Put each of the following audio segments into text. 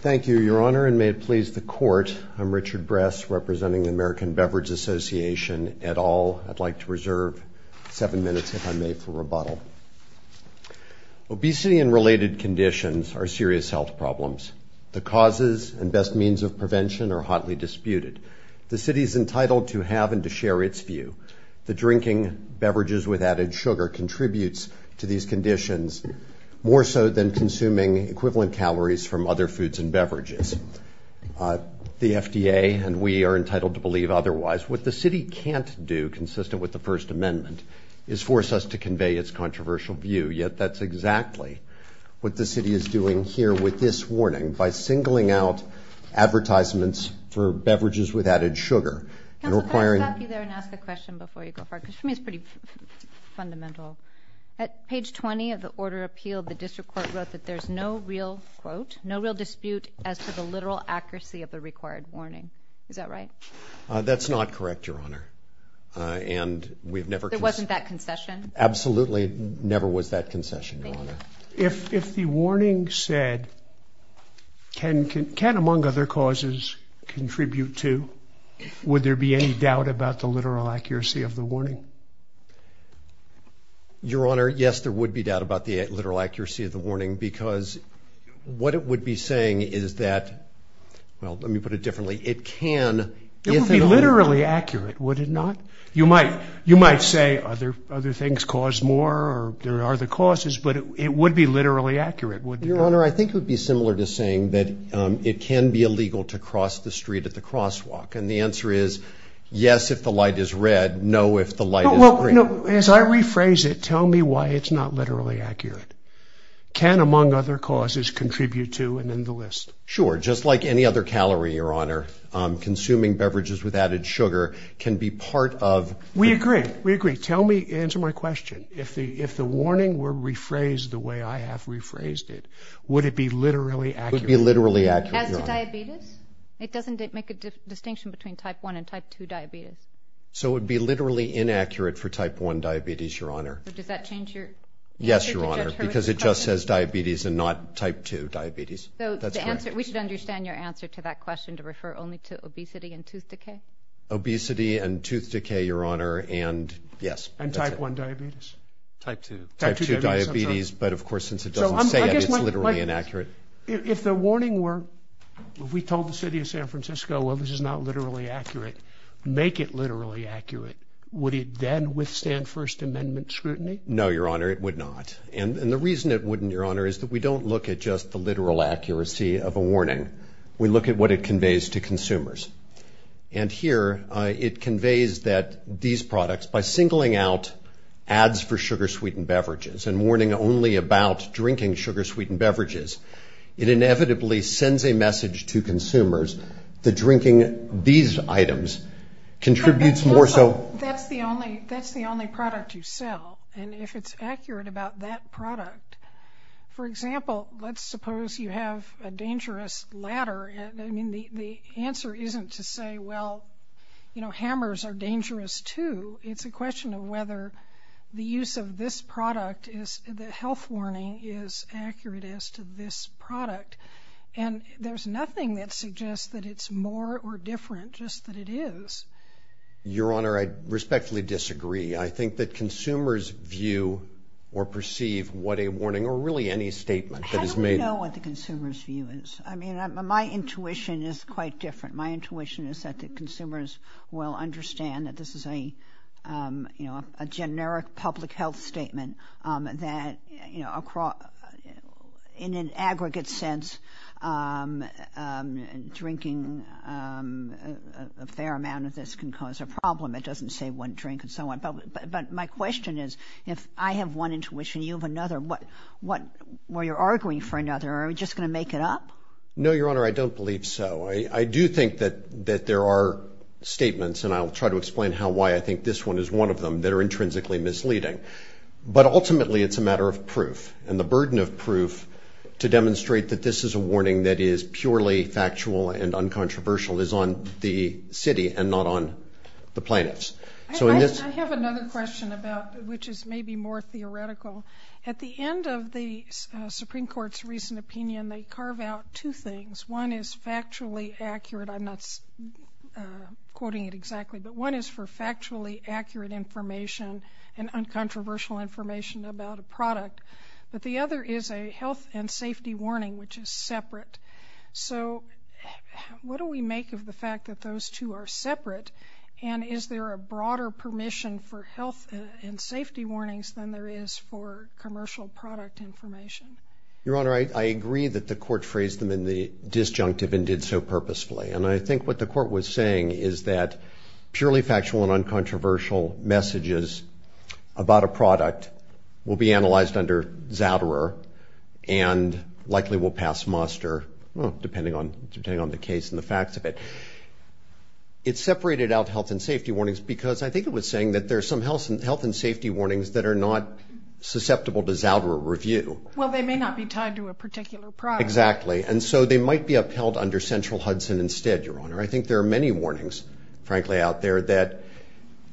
Thank you, Your Honor, and may it please the Court, I'm Richard Bress, representing the American Beverage Association et al. I'd like to reserve seven minutes, if I may, for rebuttal. Obesity and related conditions are serious health problems. The causes and best means of prevention are hotly disputed. The City is entitled to have and to share its view. The drinking beverages with added sugar contributes to these conditions more so than consuming equivalent calories from other foods and beverages. The FDA and we are entitled to believe otherwise. What the City can't do, consistent with the First Amendment, is force us to convey its controversial view. Yet that's exactly what the City is doing here with this warning by singling out advertisements for beverages with added sugar. Counsel, can I stop you there and ask a question before you go for it? Because for me it's pretty fundamental. At page 20 of the Order of Appeal, the District Court wrote that there's no real, quote, no real dispute as to the literal accuracy of the required warning. Is that right? That's not correct, Your Honor, and we've never... There wasn't that concession? Absolutely never was that concession, Your Honor. If the warning said, can among other causes contribute to, would there be any doubt about the literal accuracy of the warning? Your Honor, yes, there would be doubt about the literal accuracy of the warning because what it would be saying is that, well, let me put it differently, it can, if it only... It would be literally accurate, would it not? You might say other things cause more or there would be literally accurate, would there not? Your Honor, I think it would be similar to saying that it can be illegal to cross the street at the crosswalk, and the answer is yes if the light is red, no if the light is green. Well, as I rephrase it, tell me why it's not literally accurate. Can among other causes contribute to and in the list? Sure, just like any other calorie, Your Honor, consuming beverages with added sugar can be part of... We agree, we agree. Tell me, answer my question. If the warning were rephrased the way I have rephrased it, would it be literally accurate? It would be literally accurate, Your Honor. As to diabetes? It doesn't make a distinction between type 1 and type 2 diabetes. So it would be literally inaccurate for type 1 diabetes, Your Honor. So does that change your... Yes, Your Honor, because it just says diabetes and not type 2 diabetes, that's correct. We should understand your answer to that question to refer only to obesity and tooth decay? Obesity and tooth decay, Your Honor, and yes. And type 1 diabetes? Type 2. Type 2 diabetes, but of course, since it doesn't say it, it's literally inaccurate. If the warning were, if we told the city of San Francisco, well, this is not literally accurate, make it literally accurate, would it then withstand First Amendment scrutiny? No, Your Honor, it would not. And the reason it wouldn't, Your Honor, is that we don't look at just the literal accuracy of a warning. We look at what it conveys to consumers. And here, it conveys that these products, by singling out ads for sugar-sweetened beverages and warning only about drinking sugar-sweetened beverages, it inevitably sends a message to consumers that drinking these items contributes more so... But that's the only product you sell. And if it's accurate about that product, for example, let's suppose you have a dangerous ladder. I mean, the answer isn't to say, well, you know, hammers are dangerous, too. It's a question of whether the use of this product, the health warning, is accurate as to this product. And there's nothing that suggests that it's more or different, just that it is. Your Honor, I respectfully disagree. I think that consumers view or perceive what a warning, or really any statement that is made... How do we know what the consumer's view is? I mean, my intuition is quite different. My intuition is that the consumers will understand that this is a, you know, a generic public health statement that, you know, in an aggregate sense, drinking a fair amount of this can cause a problem. It doesn't save one drink and so on. But my question is, if I have one warning where you're arguing for another, are we just going to make it up? No, Your Honor, I don't believe so. I do think that there are statements, and I'll try to explain why I think this one is one of them, that are intrinsically misleading. But ultimately, it's a matter of proof. And the burden of proof to demonstrate that this is a warning that is purely factual and uncontroversial is on the city and not on the plaintiffs. I have another question about, which is maybe more theoretical. At the end of the Supreme Court's recent opinion, they carve out two things. One is factually accurate. I'm not quoting it exactly, but one is for factually accurate information and uncontroversial information about a product. But the other is a health and safety warning, which is separate. So what do we make of the fact that those two are separate? And is there a broader permission for health and safety warnings than there is for commercial product information? Your Honor, I agree that the Court phrased them in the disjunctive and did so purposefully. And I think what the Court was saying is that purely factual and uncontroversial messages about a product will be analyzed under Zouderer and likely will pass muster, depending on the case and the facts of it. It separated out health and safety warnings because I think it was saying that there are some health and safety warnings that are not susceptible to Zouderer review. Well, they may not be tied to a particular product. Exactly. And so they might be upheld under Central Hudson instead, Your Honor. I think there are many warnings, frankly, out there that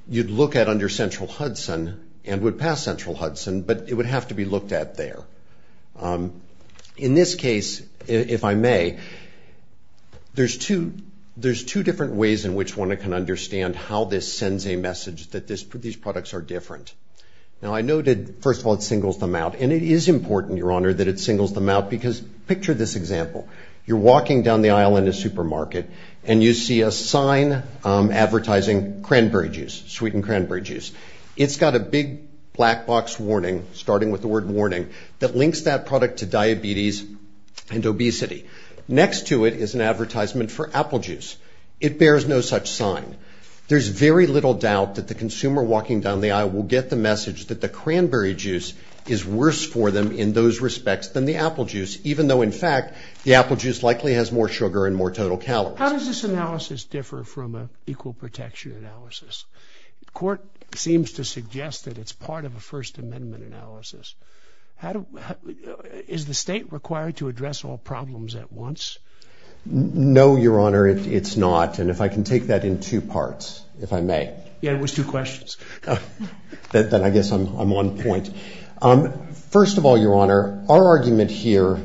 you'd look at under Central Hudson and would pass Central Hudson, but it would have to be looked at there. In this case, if I may, there's two different ways in which one can understand how this sends a message that these products are different. Now, I noted, first of all, it singles them out. And it is important, Your Honor, that it singles them out because picture this example. You're walking down the aisle in a supermarket and you see a sign advertising cranberry juice, sweetened cranberry juice. It's got a big black box warning, starting with the word warning, that links that product to diabetes and obesity. Next to it is an advertisement for apple juice. It bears no such sign. There's very little doubt that the consumer walking down the aisle will get the message that the cranberry juice is worse for them in those respects than the apple juice, even though, in fact, the apple juice likely has more sugar and more total calories. How does this analysis differ from an equal protection analysis? The court seems to suggest that it's part of a First Amendment analysis. Is the state required to address all problems at once? No, Your Honor, it's not. And if I can take that in two parts, if I may. Yeah, it was two questions. Then I guess I'm on point. First of all, Your Honor, our argument here,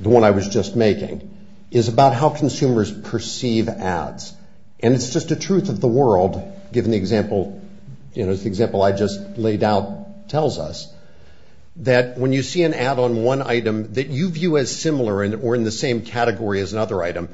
the one I was just making, is about how consumers perceive ads. And it's just a truth of the world, given the example I just laid out tells us, that when you see an ad on one item that you view as similar or in the same category as another item,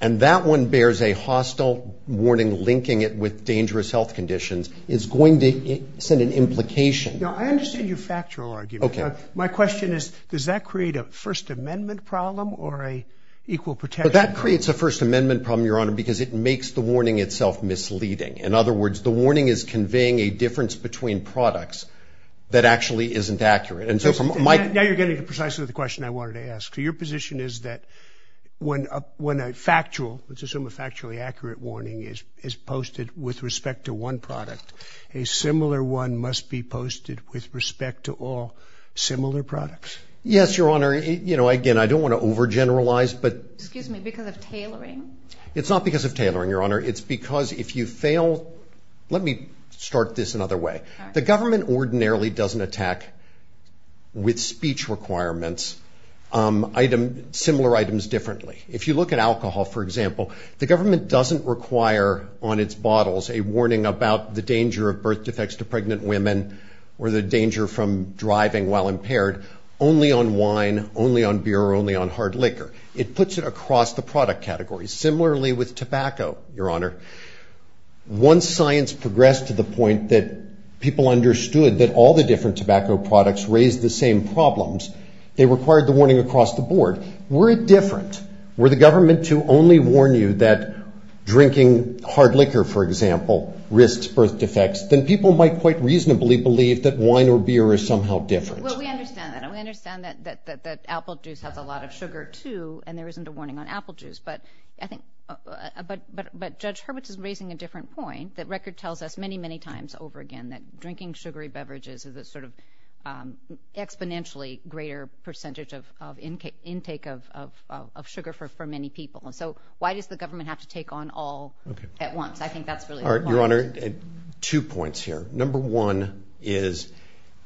and that one bears a hostile warning linking it with dangerous health conditions, it's going to send an implication. I understand your factual argument. My question is, does that create a First Amendment problem or an equal protection problem? That creates a First Amendment problem, Your Honor, because it makes the warning itself misleading. In other words, the warning is conveying a difference between products that actually isn't accurate. Now you're getting precisely the question I wanted to ask. So your position is that when a factual, let's assume a factually accurate, warning is posted with respect to one product, a similar one must be posted with respect to all similar products? Yes, Your Honor. Again, I don't want to overgeneralize. Excuse me, because of tailoring? It's not because of tailoring, Your Honor. It's because if you fail, let me start this another way. The government ordinarily doesn't attack, with speech requirements, similar items differently. If you look at alcohol, for example, the government doesn't require on its bottles a warning about the danger of birth defects to pregnant women or the danger from driving while impaired only on wine, only on beer, or only on hard liquor. It puts it across the product category. Similarly with tobacco, Your Honor, once science progressed to the point that people understood that all the different tobacco products raised the same problems, they required the warning across the board. Were it different, were the government to only warn you that drinking hard liquor, for example, risks birth defects, then people might quite reasonably believe that wine or beer is somehow different. Well, we understand that. We understand that apple juice has a lot of sugar, too, and there isn't a warning on apple juice. But Judge Hurwitz is raising a different point, that record tells us many, many times over again that drinking sugary beverages is a sort of exponentially greater percentage of intake of sugar for many people. So why does the government have to take on all at once? I think that's really important. Your Honor, two points here. Number one is,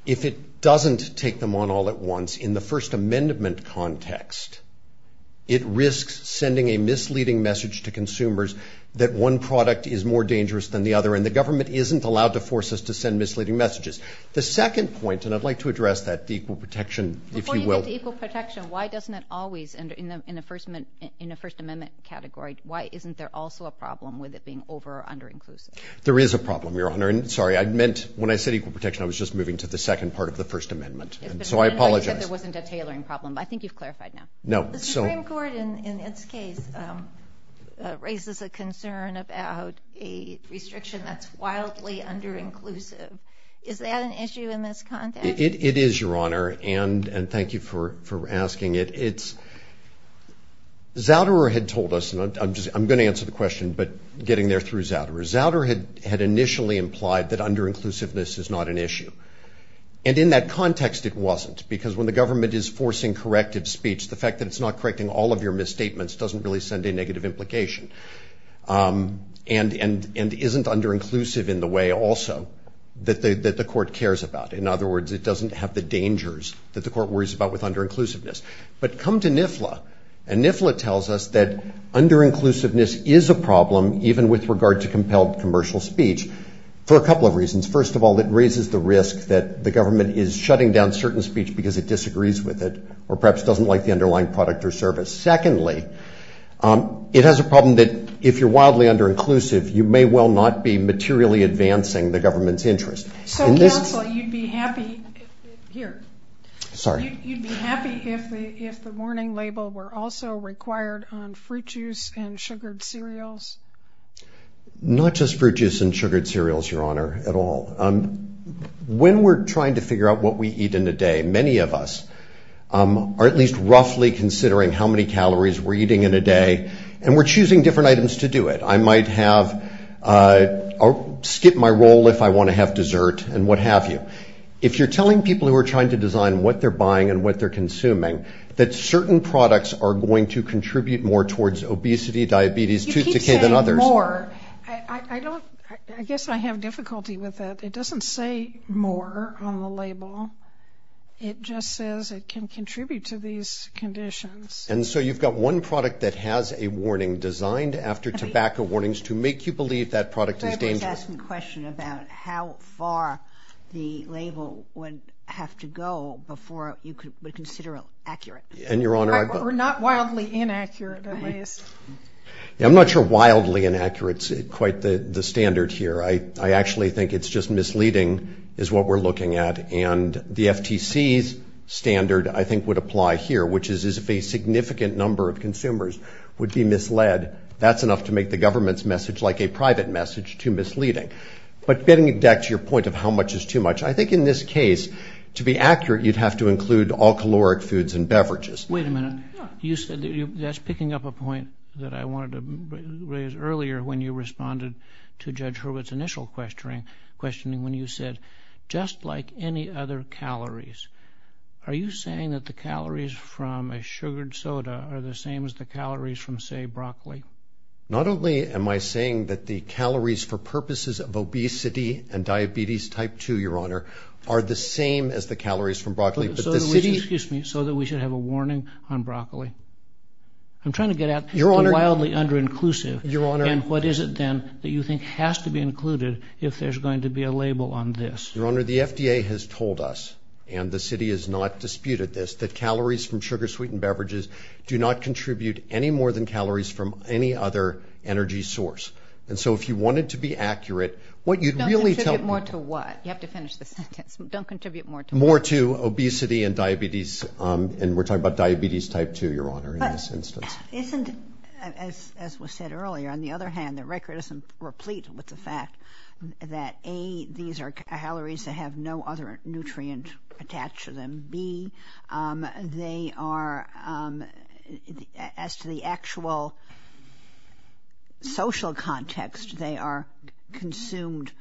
if it doesn't take them on all at once in the First Amendment context, it risks sending a misleading message to consumers that one product is more dangerous than the other, and the government isn't allowed to force us to send misleading messages. The second point, and I'd like to address that, equal protection, if you will. Before you get to equal protection, why doesn't it always, in the First Amendment category, why isn't there also a problem with it being over or under-inclusive? There is a problem, Your Honor, and sorry, I meant, when I said equal protection, I was just moving to the second part of the First Amendment, and so I apologize. I said there wasn't a tailoring problem, but I think you've clarified now. No. The Supreme Court, in its case, raises a concern about a restriction that's wildly under-inclusive. Is that an issue in this context? It is, Your Honor, and thank you for asking it. Zouder had told us, and I'm going to answer the question, but getting there through Zouder. Zouder had initially implied that under-inclusiveness is not an issue, and in that context it wasn't, because when the government is forcing corrective speech, the fact that it's not correcting all of your misstatements doesn't really send a negative implication, and isn't under-inclusive in the way also that the court cares about. In other words, it doesn't have the dangers that the court worries about with under-inclusiveness. But come to NIFLA, and NIFLA tells us that under-inclusiveness is a problem, even with regard to compelled commercial speech, for a couple of reasons. First of all, it raises the risk that the government is shutting down certain speech because it disagrees with it, or perhaps doesn't like the underlying product or service. Secondly, it has a problem that if you're wildly under-inclusive, you may well not be materially advancing the government's interest. So, counsel, you'd be happy if the warning label were also required on fruit juice and sugared cereals? Not just fruit juice and sugared cereals, Your Honor, at all. When we're trying to figure out what we eat in a day, many of us are at least roughly considering how many calories we're eating in a day, and we're choosing different items to do it. I might skip my roll if I want to have dessert, and what have you. If you're telling people who are trying to design what they're buying and what they're consuming that certain products are going to contribute more towards obesity, diabetes, tooth decay than others... You keep saying more. I guess I have difficulty with that. It doesn't say more on the label. It just says it can contribute to these conditions. And so you've got one product that has a warning designed after tobacco warnings to make you believe that product is dangerous. I was asking a question about how far the label would have to go before you would consider it accurate. And, Your Honor, I... Or not wildly inaccurate, at least. I'm not sure wildly inaccurate is quite the standard here. I actually think it's just misleading is what we're looking at, and the FTC's standard, I think, would apply here, which is if a significant number of consumers would be misled, that's enough to make the government's message like a private message too misleading. But getting back to your point of how much is too much, I think in this case, to be accurate, you'd have to include all caloric foods and beverages. Wait a minute. You said... That's picking up a point that I wanted to raise earlier when you responded to Judge Hurwitz's initial questioning when you said, just like any other calories. Are you saying that the calories from a sugared soda are the same as the calories from, say, broccoli? Not only am I saying that the calories for purposes of obesity and diabetes type 2, Your Honor, are the same as the calories from broccoli, but the city... Excuse me. So that we should have a warning on broccoli. I'm trying to get at... Your Honor... ...wildly under-inclusive. Your Honor... And what is it then that you think has to be included if there's going to be a label on this? Your Honor, the FDA has told us, and the city has not disputed this, that calories from sugar-sweetened beverages do not contribute any more than calories from any other energy source. And so if you wanted to be accurate, what you'd really tell... Don't contribute more to what? You have to finish the sentence. Don't contribute more to what? More to obesity and diabetes, and we're talking about diabetes type 2, Your Honor, in this instance. But isn't... These are calories that have no other nutrient attached to them, B. They are... As to the actual social context, they are consumed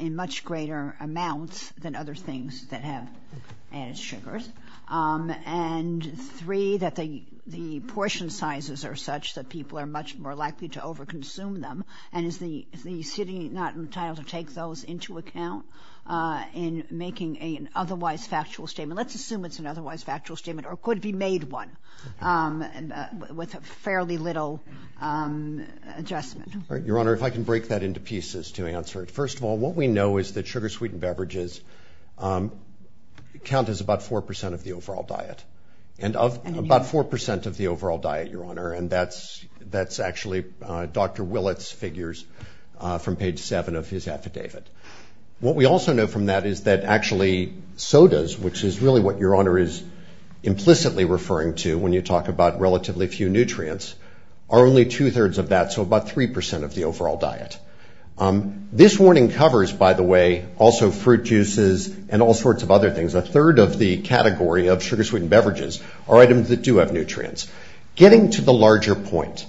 in much greater amounts than other things that have added sugars, and three, that the portion sizes are such that people are much more likely to over-consume them, and is the city not entitled to take those into account in making an otherwise factual statement? Let's assume it's an otherwise factual statement, or it could be made one with fairly little adjustment. Your Honor, if I can break that into pieces to answer it. First of all, what we know is that sugar-sweetened beverages count as about 4% of the overall diet. And of... About 4% of the overall diet, Your Honor, and that's actually Dr. Willett's figures from page 7 of his affidavit. What we also know from that is that actually sodas, which is really what Your Honor is implicitly referring to when you talk about relatively few nutrients, are only two-thirds of that, so about 3% of the overall diet. This warning covers, by the way, also fruit juices and all sorts of other things. A third of the category of sugar-sweetened beverages are items that do have nutrients. Getting to the larger point,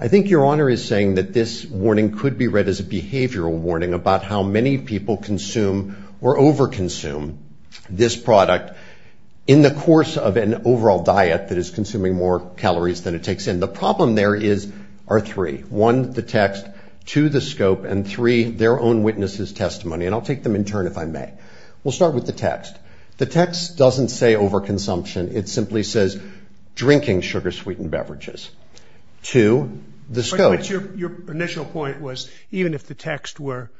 I think Your Honor is saying that this warning could be read as a behavioral warning about how many people consume or over-consume this product in the course of an overall diet that is consuming more calories than it takes in. The problem there is... are three. One, the text, two, the scope, and three, their own witness's testimony, and I'll take them in turn if I may. We'll start with the text. The text doesn't say over-consumption. It simply says drinking sugar-sweetened beverages. Two, the scope. Your initial point was, even if the text were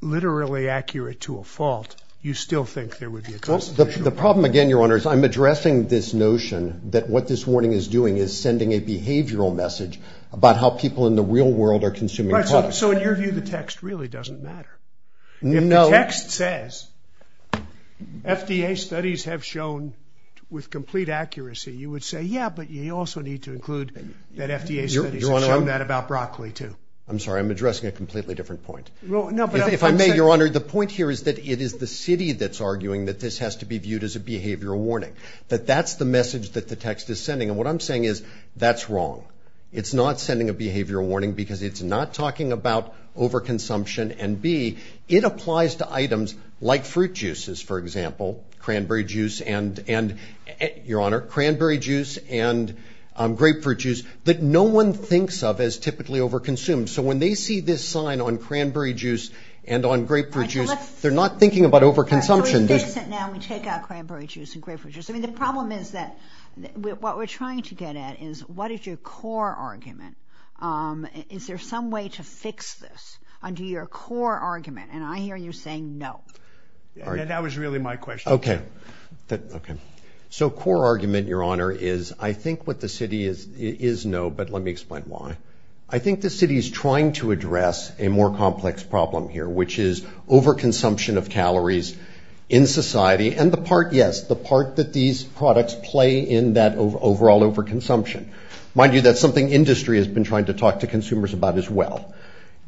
literally accurate to a fault, you still think there would be a constitutional problem. The problem again, Your Honor, is I'm addressing this notion that what this warning is doing is sending a behavioral message about how people in the real world are consuming products. So in your view, the text really doesn't matter. No. The text says FDA studies have shown with complete accuracy. You would say, yeah, but you also need to include that FDA studies have shown that about broccoli too. I'm sorry. I'm addressing a completely different point. No, but I'm saying... If I may, Your Honor, the point here is that it is the city that's arguing that this has to be viewed as a behavioral warning. That that's the message that the text is sending, and what I'm saying is that's wrong. It's not sending a behavioral warning because it's not talking about over-consumption, and it applies to items like fruit juices, for example, cranberry juice and grapefruit juice that no one thinks of as typically over-consumed. So when they see this sign on cranberry juice and on grapefruit juice, they're not thinking about over-consumption. So we fix it now. We take out cranberry juice and grapefruit juice. The problem is that what we're trying to get at is what is your core argument? Is there some way to fix this under your core argument? And I hear you saying no. That was really my question. Okay. Okay. So core argument, Your Honor, is I think what the city is, is no, but let me explain why. I think the city is trying to address a more complex problem here, which is over-consumption of calories in society, and the part, yes, the part that these products play in that overall over-consumption. Mind you, that's something industry has been trying to talk to consumers about as well.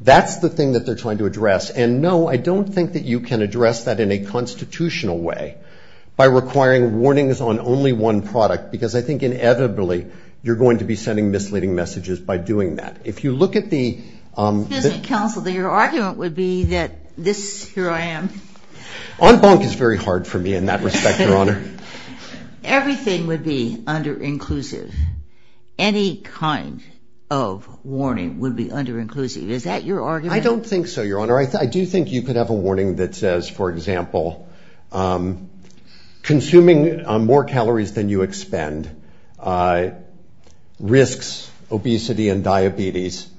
That's the thing that they're trying to address. And no, I don't think that you can address that in a constitutional way by requiring warnings on only one product, because I think inevitably you're going to be sending misleading messages by doing that. If you look at the- Excuse me, counsel, your argument would be that this, here I am- En banc is very hard for me in that respect, Your Honor. Everything would be under-inclusive. Any kind of warning would be under-inclusive. Is that your argument? I don't think so, Your Honor. I do think you could have a warning that says, for example, consuming more calories than you expend risks obesity and diabetes.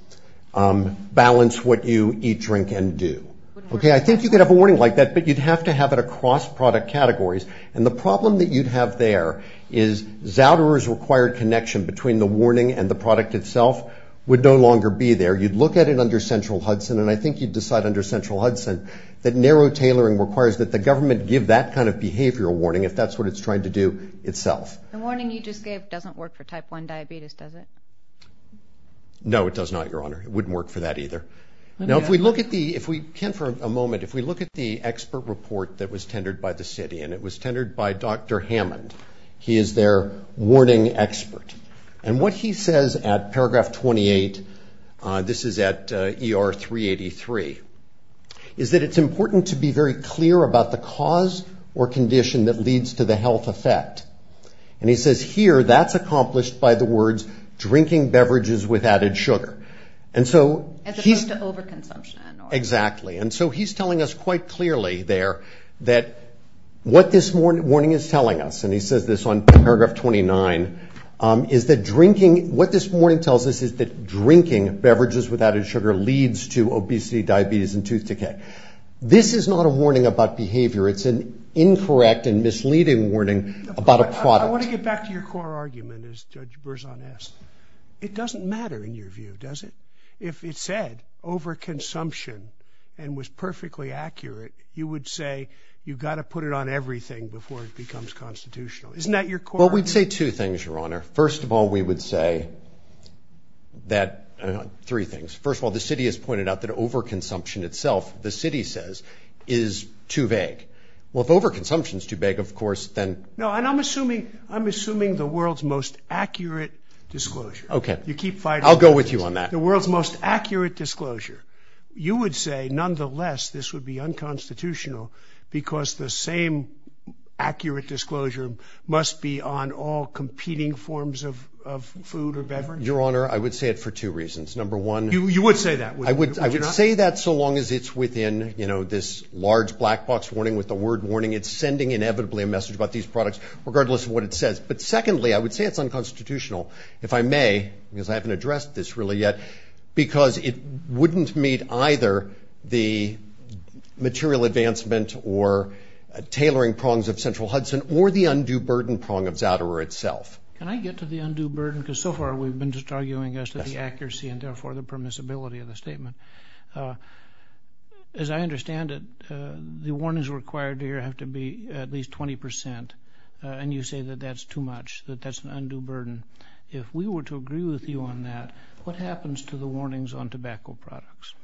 Balance what you eat, drink, and do. Okay? I think you could have a warning like that, but you'd have to have it across product categories. And the problem that you'd have there is Zouderer's required connection between the warning and the product itself would no longer be there. You'd look at it under Central Hudson, and I think you'd decide under Central Hudson that narrow tailoring requires that the government give that kind of behavioral warning if that's what it's trying to do itself. The warning you just gave doesn't work for type 1 diabetes, does it? No, it does not, Your Honor. It wouldn't work for that either. Now, if we look at the- Ken, for a moment, if we look at the expert report that was tendered by the city, and it was tendered by Dr. Hammond, he is their warning expert. And what he says at paragraph 28, this is at ER 383, is that it's important to be very clear about the cause or condition that leads to the health effect. And he says here, that's accomplished by the words, drinking beverages with added sugar. And so he's- As opposed to overconsumption, Your Honor. Exactly. And so he's telling us quite clearly there that what this warning is telling us, and he says this on paragraph 29, is that drinking- what this warning tells us is that drinking beverages with added sugar leads to obesity, diabetes, and tooth decay. This is not a warning about behavior. It's an incorrect and misleading warning about a product. I want to get back to your core argument, as Judge Berzon asked. It doesn't matter in your view, does it? If it said overconsumption and was perfectly accurate, you would say you've got to put it on everything before it becomes constitutional. Isn't that your core argument? Well, we'd say two things, Your Honor. First of all, we would say that- three things. First of all, the city has pointed out that overconsumption itself, the city says, is too vague. Well, if overconsumption is too vague, of course, then- No, and I'm assuming the world's most accurate disclosure. Okay. You keep fighting- I'll go with you on that. The world's most accurate disclosure. You would say, nonetheless, this would be unconstitutional because the same accurate disclosure must be on all competing forms of food or beverage? Your Honor, I would say it for two reasons. Number one- You would say that, would you not? I would say that so long as it's within this large black box warning with the word warning. It's sending inevitably a message about these products, regardless of what it says. But secondly, I would say it's unconstitutional, if I may, because I haven't addressed this really yet, because it wouldn't meet either the material advancement or tailoring prongs of Central Hudson, or the undue burden prong of Zouderer itself. Can I get to the undue burden, because so far we've been just arguing as to the accuracy and therefore the permissibility of the statement. As I understand it, the warnings required here have to be at least 20%, and you say that that's too much, that that's an undue burden. If we were to agree with you on that, what happens to the warnings on tobacco products?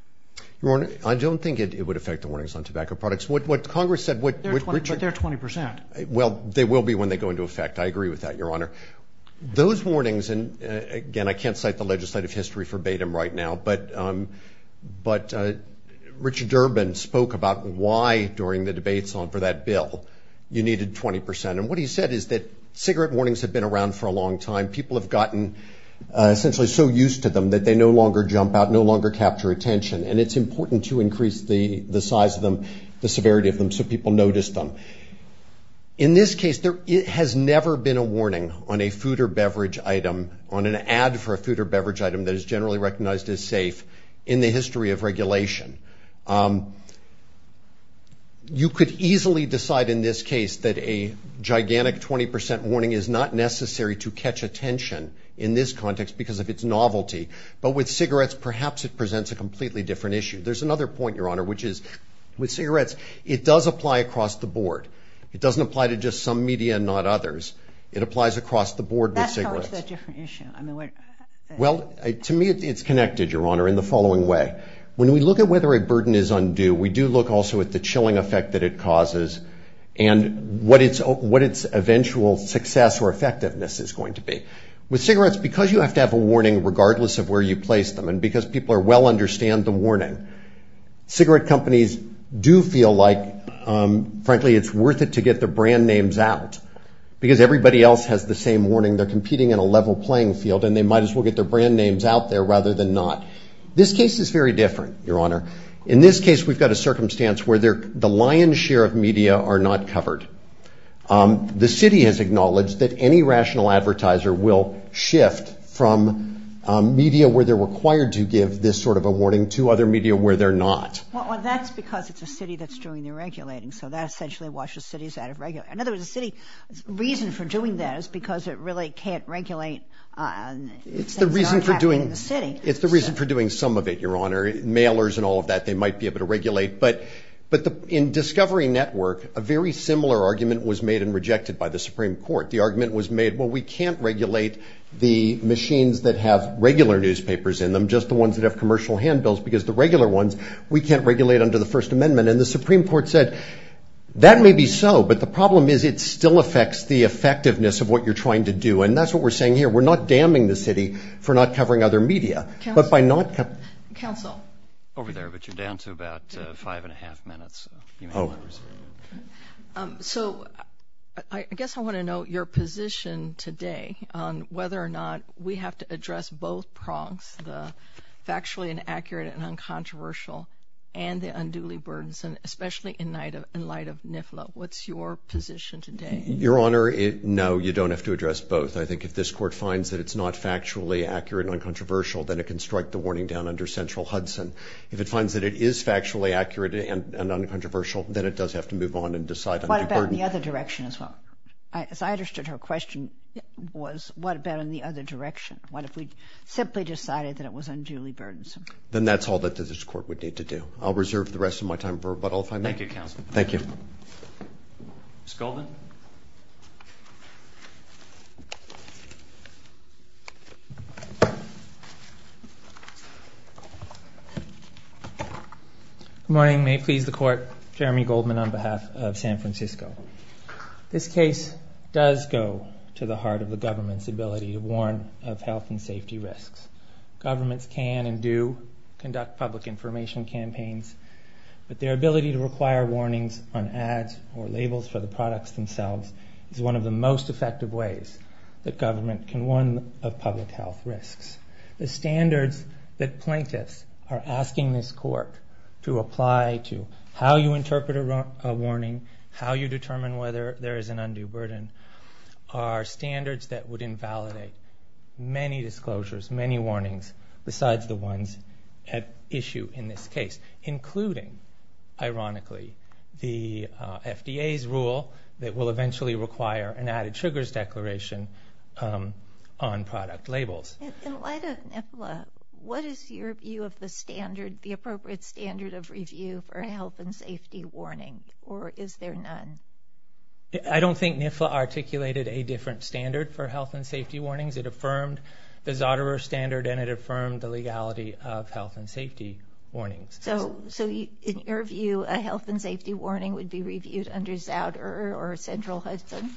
Your Honor, I don't think it would affect the warnings on tobacco products. What Congress said- But they're 20%. Well, they will be when they go into effect. I agree with that, Your Honor. Those warnings, and again, I can't cite the legislative history verbatim right now, but Richard Durbin spoke about why, during the debates for that bill, you needed 20%. What he said is that cigarette warnings have been around for a long time. People have gotten essentially so used to them that they no longer jump out, no longer capture attention, and it's important to increase the size of them, the severity of them, so people notice them. In this case, there has never been a warning on a food or beverage item, on an ad for a food or beverage item that is generally recognized as safe in the history of regulation. You could easily decide in this case that a gigantic 20% warning is not necessary to catch attention in this context because of its novelty, but with cigarettes, perhaps it presents a completely different issue. There's another point, Your Honor, which is with cigarettes, it does apply across the board. It doesn't apply to just some media and not others. It applies across the board with cigarettes. That's part of the different issue. Well, to me, it's connected, Your Honor, in the following way. When we look at whether a burden is undue, we do look also at the chilling effect that it causes and what its eventual success or effectiveness is going to be. With cigarettes, because you have to have a warning regardless of where you place them and because people well understand the warning, cigarette companies do feel like, frankly, it's worth it to get their brand names out because everybody else has the same warning. They're competing in a level playing field and they might as well get their brand names out there rather than not. This case is very different, Your Honor. In this case, we've got a circumstance where the lion's share of media are not covered. The city has acknowledged that any rational advertiser will shift from media where they're required to give this sort of a warning to other media where they're not. Well, that's because it's a city that's doing the regulating, so that essentially washes cities out of regulation. In other words, the city's reason for doing that is because it really can't regulate things not happening in the city. It's the reason for doing some of it, Your Honor. Mailers and all of that, they might be able to regulate, but in Discovery Network, a very similar argument was made and rejected by the Supreme Court. The argument was made, well, we can't regulate the machines that have regular newspapers in them, just the ones that have commercial handbills because the regular ones, we can't regulate under the First Amendment. And the Supreme Court said, that may be so, but the problem is it still affects the effectiveness of what you're trying to do. And that's what we're saying here. We're not damning the city for not covering other media, but by not... Counsel. Over there, but you're down to about five and a half minutes. So I guess I want to know your position today on whether or not we have to address both prongs, the factually inaccurate and uncontroversial and the unduly burdensome, especially in light of NIFLA. What's your position today? Your Honor, no, you don't have to address both. I think if this Court finds that it's not factually accurate and uncontroversial, then it can strike the warning down under central Hudson. If it finds that it is factually accurate and uncontroversial, then it does have to move on and decide on the burden. What about in the other direction as well? As I understood her question was, what about in the other direction? What if we simply decided that it was unduly burdensome? Then that's all that this Court would need to do. I'll reserve the rest of my time for rebuttal if I may. Thank you, Counsel. Thank you. Ms. Goldman? Good morning. May it please the Court, Jeremy Goldman on behalf of San Francisco. This case does go to the heart of the government's ability to warn of health and safety risks. Governments can and do conduct public information campaigns, but their ability to require warnings on ads or labels for the products themselves is one of the most effective ways that government can warn of public health risks. The standards that plaintiffs are asking this Court to apply to how you interpret a warning, how you determine whether there is an undue burden, are standards that would invalidate many disclosures, many warnings besides the ones at issue in this case, including, ironically, the FDA's rule that will eventually require an added sugars declaration on product labels. In light of NIFLA, what is your view of the appropriate standard of review for health and safety warning, or is there none? I don't think NIFLA articulated a different standard for health and safety warnings. It affirmed the Zotero standard, and it affirmed the legality of health and safety warnings. So, in your view, a health and safety warning would be reviewed under Zotero or Central Hudson?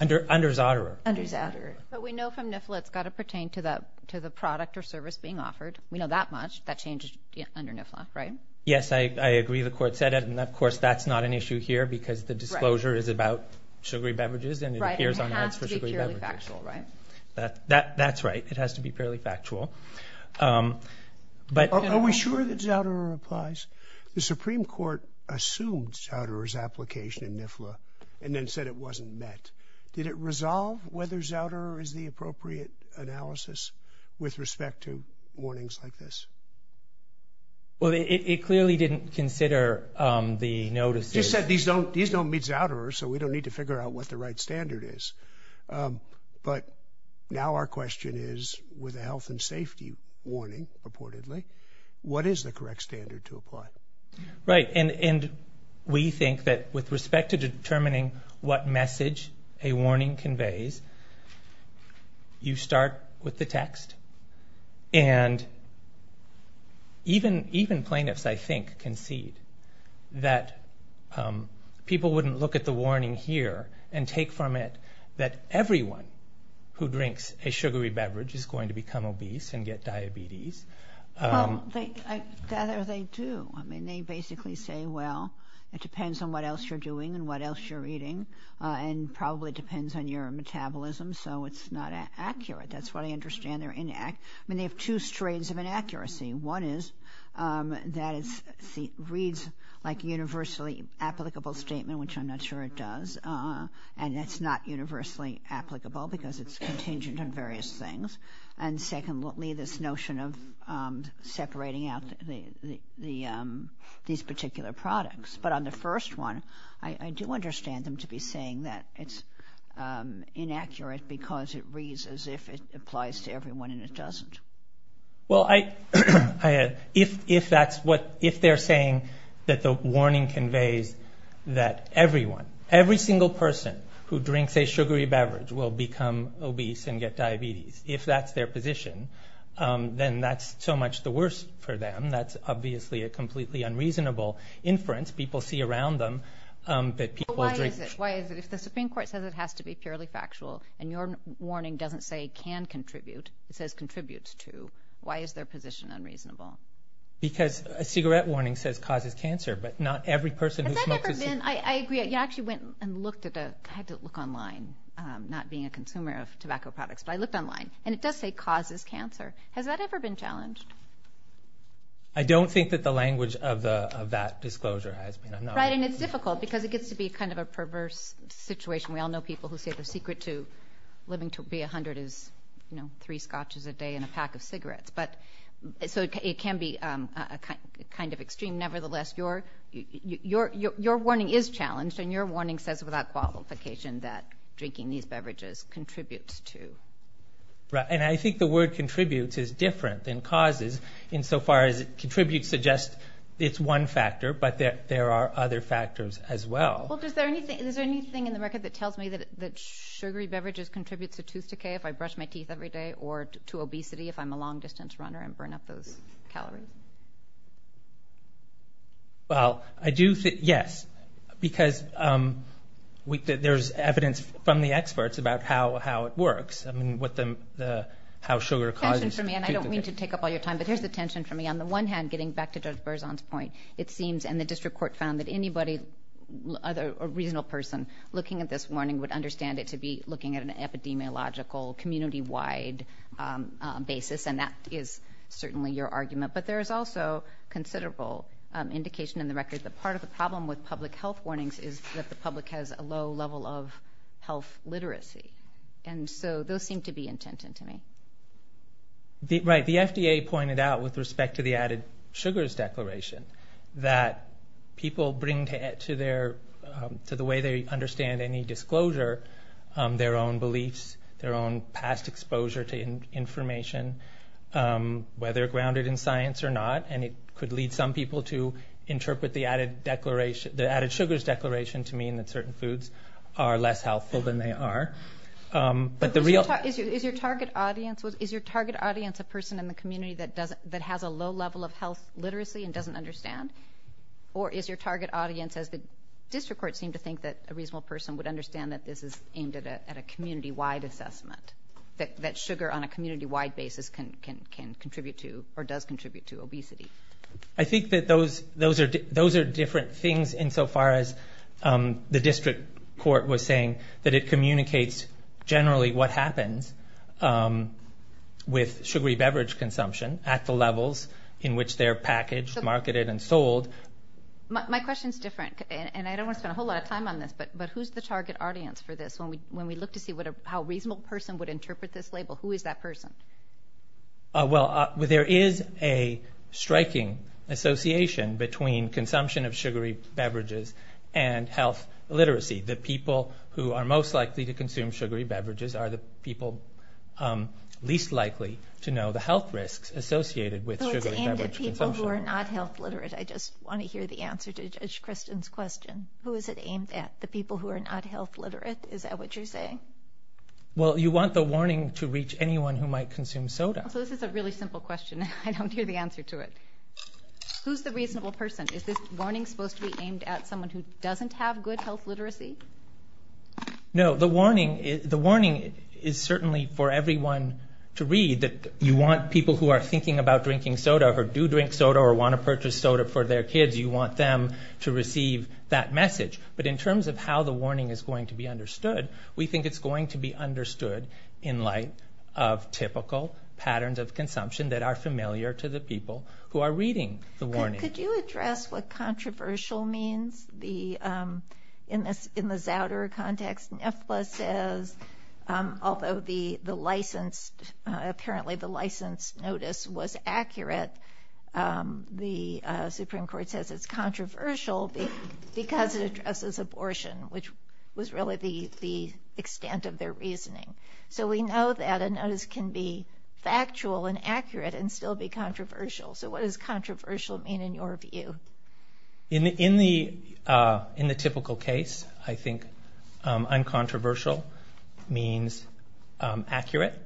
Under Zotero. Under Zotero. But we know from NIFLA it's got to pertain to the product or service being offered. We know that much. That changes under NIFLA, right? Yes, I agree the Court said it, and of course that's not an issue here because the disclosure is about sugary beverages and it appears on ads for sugary beverages. Right, and it has to be purely factual, right? That's right. It has to be purely factual. Are we sure that Zotero applies? The Supreme Court assumed Zotero's application in NIFLA and then said it wasn't met. Did it resolve whether Zotero is the appropriate analysis with respect to warnings like this? Well, it clearly didn't consider the notices. You said these don't meet Zotero, so we don't need to figure out what the right standard is. But now our question is, with a health and safety warning, reportedly, what is the correct standard to apply? Right, and we think that with respect to determining what message a warning conveys, you start with the text. And even plaintiffs, I think, concede that people wouldn't look at the warning here and assume that everyone who drinks a sugary beverage is going to become obese and get diabetes. Well, I gather they do. I mean, they basically say, well, it depends on what else you're doing and what else you're eating and probably depends on your metabolism, so it's not accurate. That's what I understand. They're inaccurate. I mean, they have two strains of inaccuracy. One is that it reads like a universally applicable statement, which I'm not sure it does, and that's not universally applicable because it's contingent on various things. And secondly, this notion of separating out these particular products. But on the first one, I do understand them to be saying that it's inaccurate because it reads as if it applies to everyone and it doesn't. Well, if that's what, if they're saying that the warning conveys that everyone, every single person who drinks a sugary beverage will become obese and get diabetes, if that's their position, then that's so much the worse for them. That's obviously a completely unreasonable inference people see around them that people drink. But why is it? Why is it? If the Supreme Court says it has to be purely factual and your warning doesn't say can contribute, it says contributes to, why is their position unreasonable? Because a cigarette warning says causes cancer, but not every person who smokes a cigarette... Has that ever been... I agree. You actually went and looked at a... I had to look online, not being a consumer of tobacco products, but I looked online and it does say causes cancer. Has that ever been challenged? I don't think that the language of that disclosure has been... Right, and it's difficult because it gets to be kind of a perverse situation. We all know people who say the secret to living to be 100 is, you know, three scotches a day and a pack of cigarettes, but so it can be a kind of extreme. And nevertheless, your warning is challenged and your warning says without qualification that drinking these beverages contributes to. Right, and I think the word contributes is different than causes in so far as it contributes to just it's one factor, but there are other factors as well. Well, is there anything in the record that tells me that sugary beverages contributes to tooth decay if I brush my teeth every day or to obesity if I'm a long distance runner and burn up those calories? Well, I do think, yes, because there's evidence from the experts about how it works, I mean, how sugar causes tooth decay. Tension for me, and I don't mean to take up all your time, but here's the tension for me. On the one hand, getting back to Judge Berzon's point, it seems, and the district court found that anybody, a reasonable person, looking at this warning would understand it to be looking at an epidemiological, community-wide basis, and that is certainly your argument, but there is also considerable indication in the record that part of the problem with public health warnings is that the public has a low level of health literacy, and so those seem to be intent into me. Right, the FDA pointed out with respect to the added sugars declaration that people bring to the way they understand any disclosure their own beliefs, their own past exposure to information, whether grounded in science or not, and it could lead some people to interpret the added sugars declaration to mean that certain foods are less healthful than they are. But the real... But is your target audience a person in the community that has a low level of health literacy and doesn't understand? Or is your target audience, as the district court seemed to think that a reasonable person would understand that this is aimed at a community-wide assessment, that sugar on a community-wide basis can contribute to or does contribute to obesity? I think that those are different things insofar as the district court was saying that it communicates generally what happens with sugary beverage consumption at the levels in which they're packaged, marketed, and sold. My question's different, and I don't want to spend a whole lot of time on this, but who's the target audience for this? When we look to see how a reasonable person would interpret this label, who is that person? Well, there is a striking association between consumption of sugary beverages and health literacy. The people who are most likely to consume sugary beverages are the people least likely to know the health risks associated with sugary beverage consumption. So it's aimed at people who are not health literate. I just want to hear the answer to Judge Kristen's question. Who is it aimed at? The people who are not health literate? Is that what you're saying? Well, you want the warning to reach anyone who might consume soda. So this is a really simple question, and I don't hear the answer to it. Who's the reasonable person? Is this warning supposed to be aimed at someone who doesn't have good health literacy? No. The warning is certainly for everyone to read that you want people who are thinking about drinking soda or do drink soda or want to purchase soda for their kids, you want them to receive that message. But in terms of how the warning is going to be understood, we think it's going to be understood in light of typical patterns of consumption that are familiar to the people who are reading the warning. Could you address what controversial means? In the Zouder context, NIFLA says, although apparently the license notice was accurate, the Supreme Court says it's controversial because it addresses abortion, which was really the extent of their reasoning. So we know that a notice can be factual and accurate and still be controversial. So what does controversial mean in your view? In the typical case, I think uncontroversial means accurate.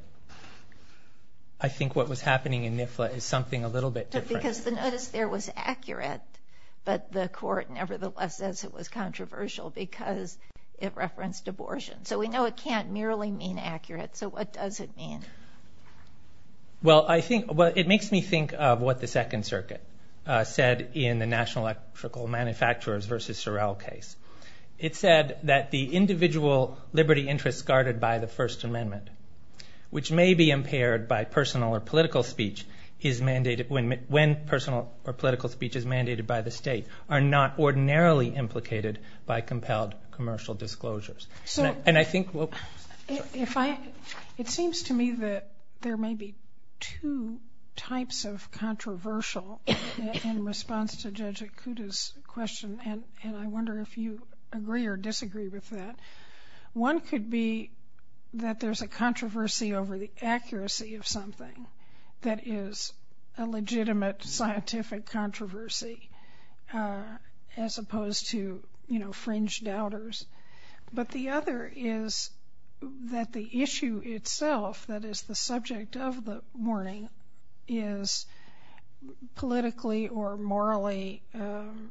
I think what was happening in NIFLA is something a little bit different. Because the notice there was accurate, but the court nevertheless says it was controversial because it referenced abortion. So we know it can't merely mean accurate. So what does it mean? It makes me think of what the Second Circuit said in the National Electrical Manufacturers versus Sorrell case. It said that the individual liberty interests guarded by the First Amendment, which may be impaired by personal or political speech when personal or political speech is mandated by the state, are not ordinarily implicated by compelled commercial disclosures. It seems to me that there may be two types of controversial in response to Judge Ikuda's question, and I wonder if you agree or disagree with that. One could be that there's a controversy over the accuracy of something that is a legitimate scientific controversy as opposed to, you know, fringe doubters. But the other is that the issue itself that is the subject of the warning is politically or morally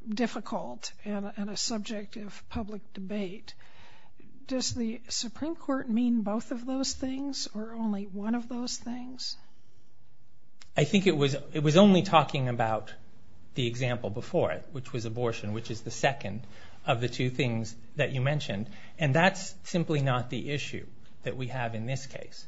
difficult and a subject of public debate. Does the Supreme Court mean both of those things or only one of those things? I think it was only talking about the example before it, which was abortion, which is the second of the two things that you mentioned. And that's simply not the issue that we have in this case.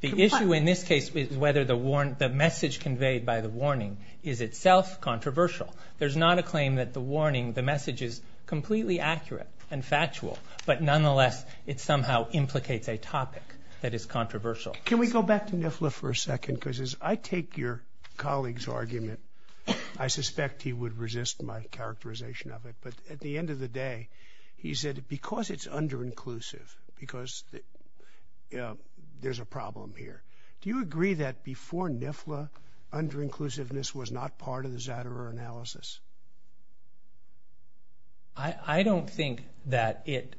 The issue in this case is whether the message conveyed by the warning is itself controversial. There's not a claim that the warning, the message is completely accurate and factual, but nonetheless it somehow implicates a topic that is controversial. Can we go back to NIFLA for a second, because as I take your colleague's argument, I suspect he would resist my characterization of it, but at the end of the day, he said because it's under-inclusive, because there's a problem here. Do you agree that before NIFLA, under-inclusiveness was not part of the Zouderer analysis? I don't think that it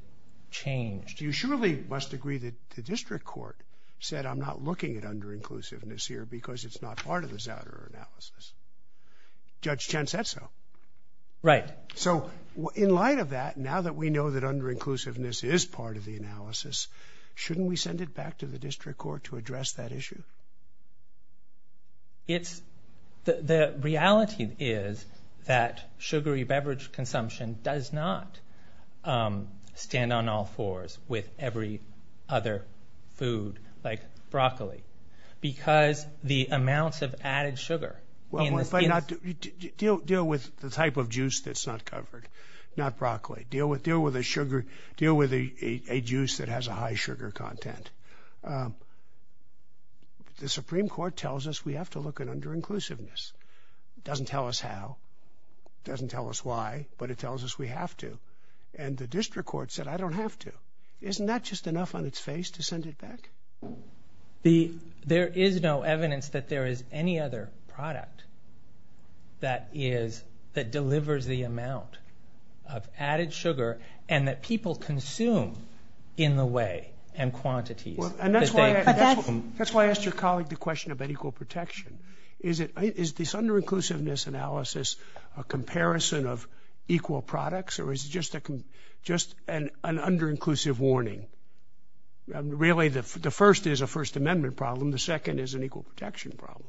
changed. You surely must agree that the district court said, I'm not looking at under-inclusiveness here because it's not part of the Zouderer analysis. Judge Chen said so. Right. So in light of that, now that we know that under-inclusiveness is part of the analysis, shouldn't we send it back to the district court to address that issue? The reality is that sugary beverage consumption does not stand on all fours with every other food, like broccoli, because the amounts of added sugar. Well, deal with the type of juice that's not covered, not broccoli. Deal with a juice that has a high sugar content. The Supreme Court tells us we have to look at under-inclusiveness. Doesn't tell us how, doesn't tell us why, but it tells us we have to. And the district court said, I don't have to. Isn't that just enough on its face to send it back? There is no evidence that there is any other product that delivers the amount of added sugar and that people consume in the way and quantities. And that's why I asked your colleague the question about equal protection. Is this under-inclusiveness analysis a comparison of equal products, or is it just an under-inclusive warning? Really, the first is a First Amendment problem. The second is an equal protection problem.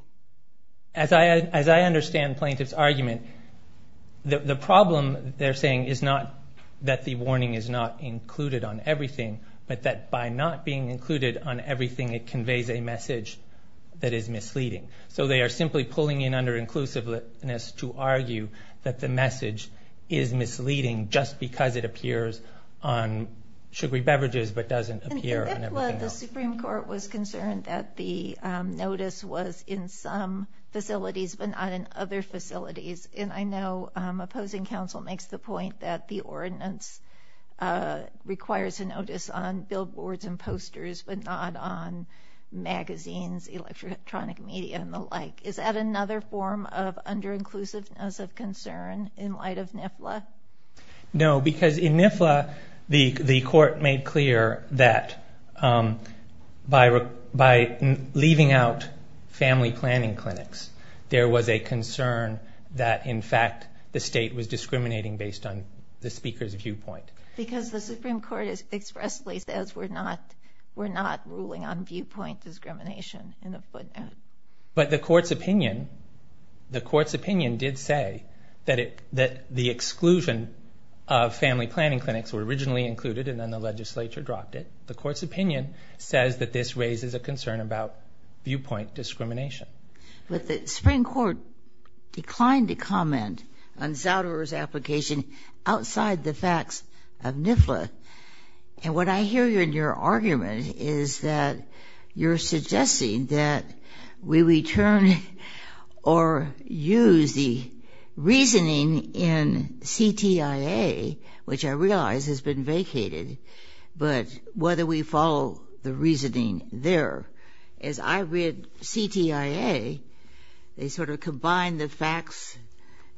As I understand plaintiff's argument, the problem they're saying is not that the warning is not included on everything, but that by not being included on everything, it conveys a message that is misleading. So they are simply pulling in under-inclusiveness to argue that the message is misleading just because it appears on sugary beverages, but doesn't appear on everything else. And in NIFLA, the Supreme Court was concerned that the notice was in some facilities, but not in other facilities. And I know opposing counsel makes the point that the ordinance requires a notice on billboards and posters, but not on magazines, electronic media, and the like. Is that another form of under-inclusiveness of concern in light of NIFLA? No, because in NIFLA, the court made clear that by leaving out family planning clinics, there was a concern that, in fact, the state was discriminating based on the speaker's viewpoint. Because the Supreme Court expressly says we're not ruling on viewpoint discrimination in the footnote. But the court's opinion, the court's opinion did say that the exclusion of family planning clinics were originally included, and then the legislature dropped it. The court's opinion says that this raises a concern about viewpoint discrimination. But the Supreme Court declined to comment on Zauderer's application outside the facts of NIFLA. And what I hear in your argument is that you're suggesting that we return or use the reasoning in CTIA, which I realize has been vacated, but whether we follow the reasoning there. As I read CTIA, they sort of combine the facts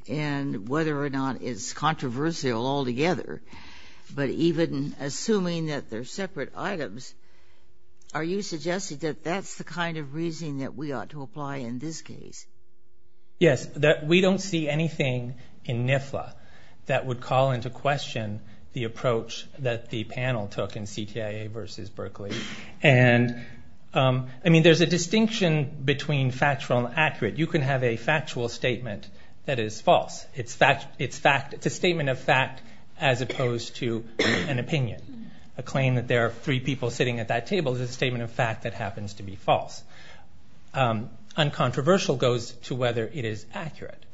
and whether or not it's controversial altogether. But even assuming that they're separate items, are you suggesting that that's the kind of reasoning that we ought to apply in this case? Yes, that we don't see anything in NIFLA that would call into question the approach that the panel took in CTIA versus Berkeley. And I mean, there's a distinction between factual and accurate. You can have a factual statement that is false. It's a statement of fact as opposed to an opinion. A claim that there are three people sitting at that table is a statement of fact that happens to be false. Uncontroversial goes to whether it is accurate.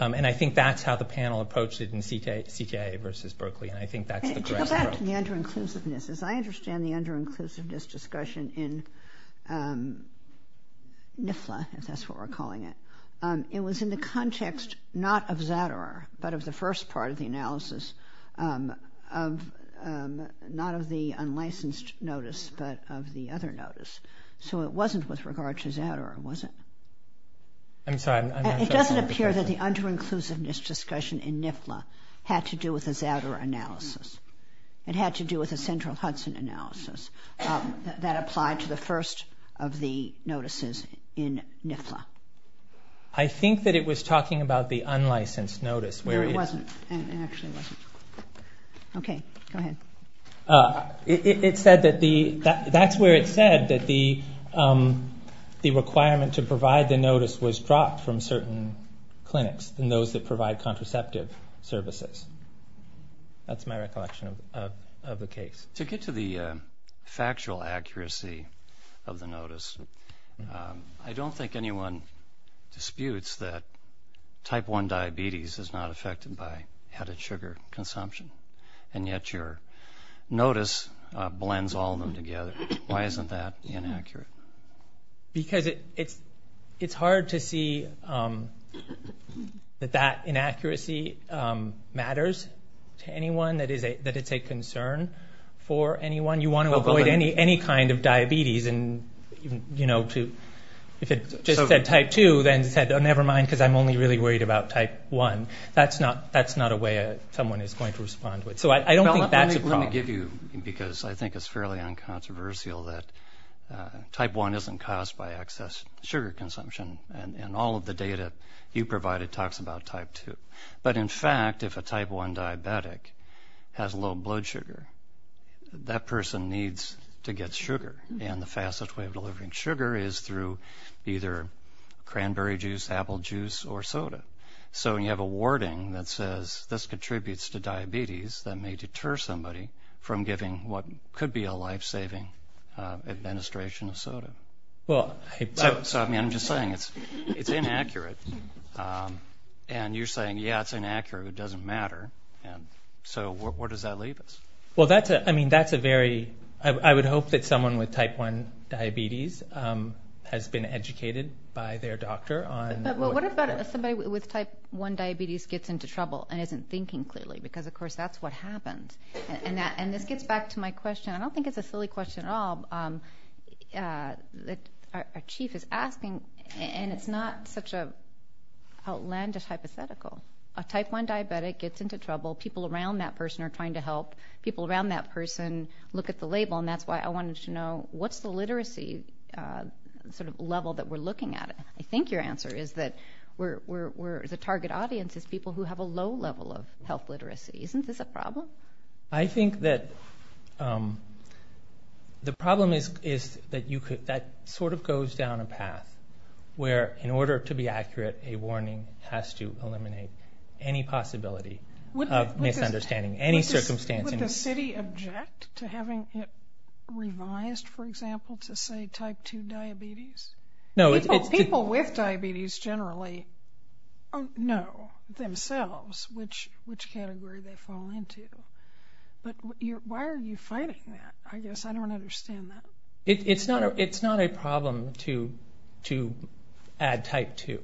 And I think that's how the panel approached it in CTIA versus Berkeley, and I think that's the correct approach. To go back to the under-inclusiveness, as I understand the under-inclusiveness discussion in NIFLA, if that's what we're calling it, it was in the context not of Zadar, but of the first part of the analysis, not of the unlicensed notice, but of the other notice. So it wasn't with regard to Zadar, was it? I'm sorry. It doesn't appear that the under-inclusiveness discussion in NIFLA had to do with a Zadar analysis. It had to do with a central Hudson analysis that applied to the first of the notices in NIFLA. I think that it was talking about the unlicensed notice where it was. No, it wasn't. It actually wasn't. Okay. Go ahead. It said that the... That's where it said that the requirement to provide the notice was dropped from certain clinics and those that provide contraceptive services. That's my recollection of the case. To get to the factual accuracy of the notice, I don't think anyone disputes that type 1 diabetes is not affected by added sugar consumption, and yet your notice blends all of them together. Why isn't that inaccurate? Because it's hard to see that that inaccuracy matters to anyone, that it's a concern for anyone. You want to avoid any kind of diabetes. If it just said type 2, then it said, never mind because I'm only really worried about type 1. That's not a way someone is going to respond. I want to give you, because I think it's fairly uncontroversial, that type 1 isn't caused by excess sugar consumption, and all of the data you provided talks about type 2. But, in fact, if a type 1 diabetic has low blood sugar, that person needs to get sugar, and the fastest way of delivering sugar is through either cranberry juice, apple juice, or soda. So when you have a wording that says, this contributes to diabetes, that may deter somebody from giving what could be a life-saving administration of soda. I'm just saying, it's inaccurate. And you're saying, yeah, it's inaccurate. It doesn't matter. So where does that leave us? I would hope that someone with type 1 diabetes has been educated by their doctor. But what about if somebody with type 1 diabetes gets into trouble and isn't thinking clearly? Because, of course, that's what happens. And this gets back to my question. I don't think it's a silly question at all. Our chief is asking, and it's not such an outlandish hypothetical. A type 1 diabetic gets into trouble. People around that person are trying to help. People around that person look at the label. And that's why I wanted to know, what's the literacy level that we're looking at? I think your answer is that the target audience is people who have a low level of health literacy. Isn't this a problem? I think that the problem is that that sort of goes down a path where, in order to be accurate, a warning has to eliminate any possibility of misunderstanding any circumstances. Would the city object to having it revised, for example, to say type 2 diabetes? People with diabetes generally know themselves which category they fall into. But why are you fighting that? I guess I don't understand that. It's not a problem to add type 2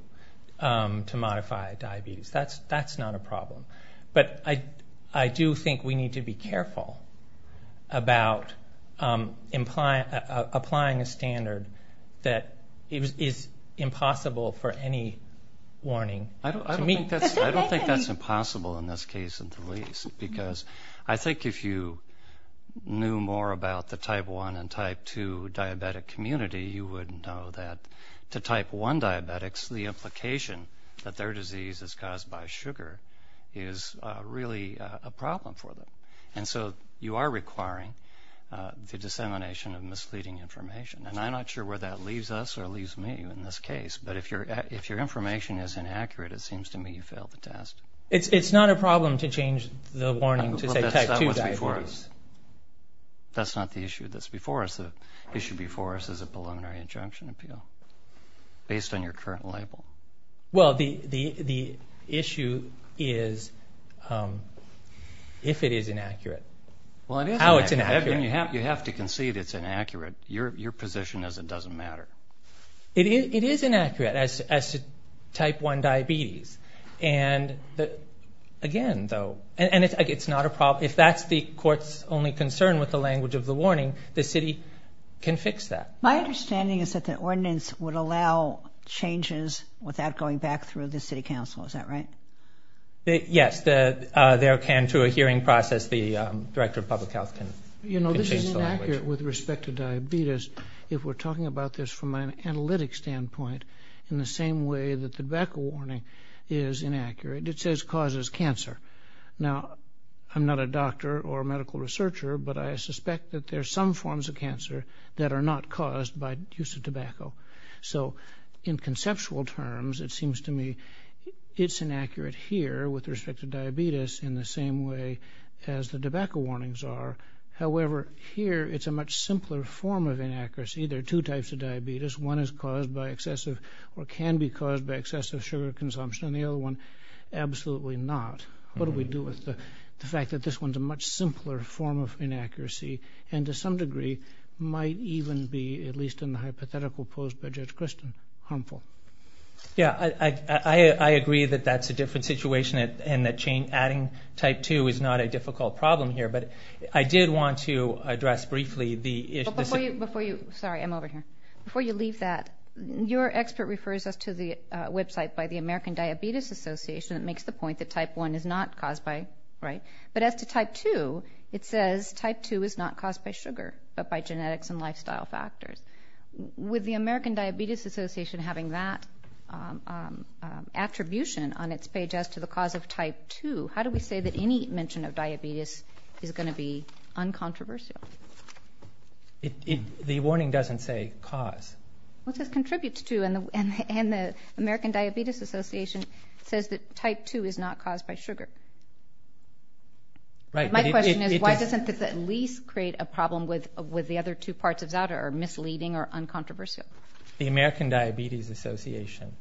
to modify diabetes. That's not a problem. But I do think we need to be careful about applying a standard that is impossible for any warning to meet. I don't think that's impossible in this case, in the least, because I think if you knew more about the type 1 and type 2 diabetic community, you would know that to type 1 diabetics, the implication that their disease is caused by sugar is really a problem for them. And so you are requiring the dissemination of misleading information. And I'm not sure where that leaves us or leaves me in this case. But if your information is inaccurate, it seems to me you failed the test. It's not a problem to change the warning to say type 2 diabetes. That's not what's before us. That's not the issue that's before us. The issue before us is a preliminary injunction appeal based on your current label. Well, the issue is if it is inaccurate, how it's inaccurate. You have to concede it's inaccurate. Your position is it doesn't matter. It is inaccurate as to type 1 diabetes. And again, though, it's not a problem. If that's the court's only concern with the language of the warning, the city can fix that. My understanding is that the ordinance would allow changes without going back through the city council. Is that right? Yes, there can, through a hearing process, the director of public health can change the language. You know, this is inaccurate with respect to diabetes if we're talking about this from an analytic standpoint in the same way that the DACA warning is inaccurate. It says causes cancer. Now, I'm not a doctor or a medical researcher, but I suspect that there are some forms of cancer that are not caused by use of tobacco. So in conceptual terms, it seems to me it's inaccurate here with respect to diabetes in the same way as the tobacco warnings are. However, here it's a much simpler form of inaccuracy. There are two types of diabetes. One is caused by excessive or can be caused by excessive sugar consumption. The other one, absolutely not. What do we do with the fact that this one's a much simpler form of inaccuracy and to some degree might even be, at least in the hypothetical proposed by Judge Christin, harmful? Yeah, I agree that that's a different situation and that adding type 2 is not a difficult problem here, but I did want to address briefly the issue. Before you leave that, your expert refers us to the website by the American Diabetes Association that makes the point that type 1 is not caused by, right? But as to type 2, it says type 2 is not caused by sugar but by genetics and lifestyle factors. With the American Diabetes Association having that attribution on its page as to the cause of type 2, how do we say that any mention of diabetes is going to be uncontroversial? The warning doesn't say cause. Well, it says contributes to, and the American Diabetes Association says that type 2 is not caused by sugar. My question is why doesn't this at least create a problem with the other two parts of that or misleading or uncontroversial? The American Diabetes Association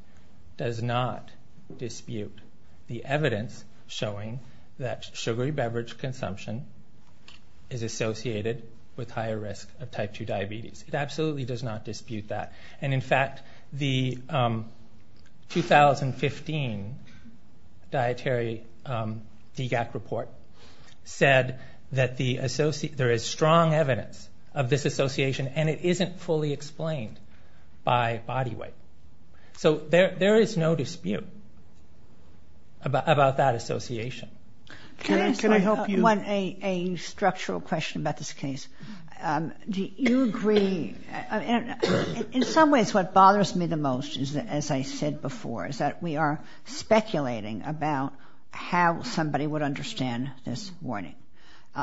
does not dispute the evidence showing that sugary beverage consumption is associated with higher risk of type 2 diabetes. It absolutely does not dispute that. And in fact, the 2015 dietary DGAC report said that there is strong evidence of this association and it isn't fully explained by body weight. So there is no dispute about that association. Can I ask a structural question about this case? Do you agree? In some ways what bothers me the most, as I said before, is that we are speculating about how somebody would understand this warning.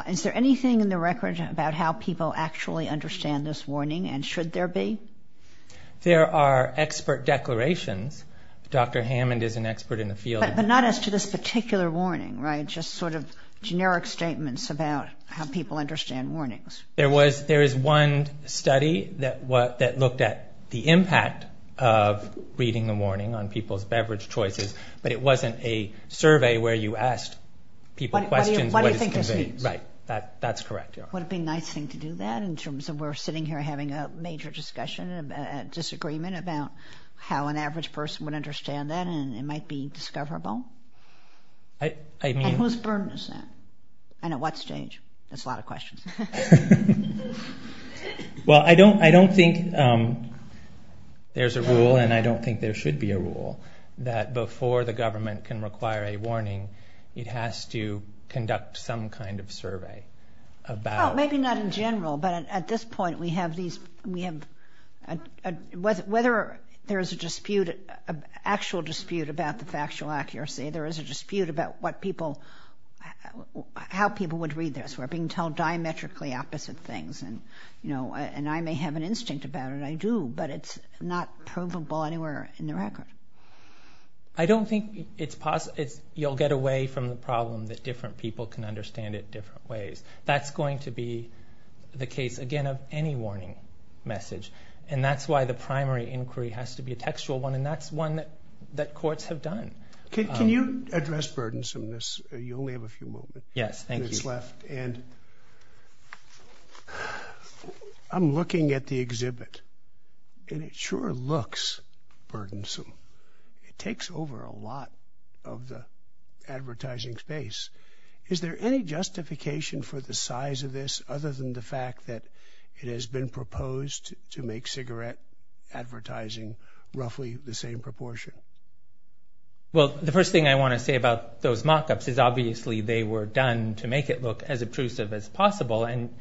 Is there anything in the record about how people actually understand this warning and should there be? There are expert declarations. Dr. Hammond is an expert in the field. But not as to this particular warning, right? Just sort of generic statements about how people understand warnings. There is one study that looked at the impact of reading a warning on people's beverage choices, but it wasn't a survey where you asked people questions. What do you think this means? Right, that's correct. Would it be a nice thing to do that in terms of we're sitting here having a major discussion, a disagreement about how an average person would understand that and it might be discoverable? I mean... And whose burden is that? And at what stage? That's a lot of questions. Well, I don't think there's a rule and I don't think there should be a rule that before the government can require a warning, it has to conduct some kind of survey about... Maybe not in general, but at this point we have these... Whether there's an actual dispute about the factual accuracy, there is a dispute about how people would read this. We're being told diametrically opposite things. And I may have an instinct about it, I do, but it's not provable anywhere in the record. I don't think you'll get away from the problem that different people can understand it different ways. That's going to be the case, again, of any warning message. And that's why the primary inquiry has to be a textual one and that's one that courts have done. Can you address burdensomeness? You only have a few moments. Yes, thank you. And I'm looking at the exhibit and it sure looks burdensome. It takes over a lot of the advertising space. Is there any justification for the size of this other than the fact that it has been proposed to make cigarette advertising roughly the same proportion? Well, the first thing I want to say about those mock-ups is obviously they were done to make it look as obtrusive as possible. And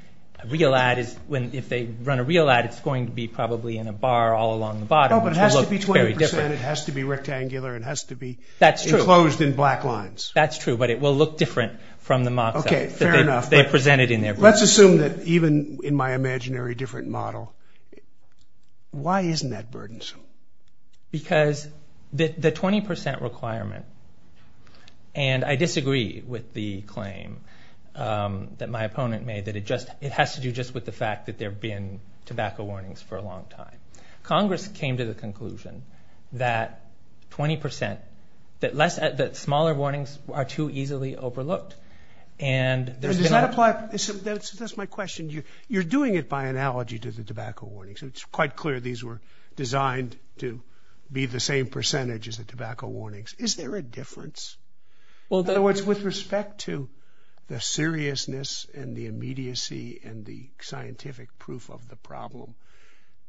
a real ad, if they run a real ad, it's going to be probably in a bar all along the bottom. Oh, but it has to be 20 percent, it has to be rectangular, it has to be enclosed in black lines. That's true, but it will look different from the mock-ups that they presented in there. Let's assume that even in my imaginary different model, why isn't that burdensome? Because the 20 percent requirement, and I disagree with the claim that my opponent made that it has to do just with the fact that there have been tobacco warnings for a long time. Congress came to the conclusion that 20 percent, that smaller warnings are too easily overlooked. Does that apply? That's my question. You're doing it by analogy to the tobacco warnings. It's quite clear these were designed to be the same percentage as the tobacco warnings. Is there a difference? In other words, with respect to the seriousness and the immediacy and the scientific proof of the problem,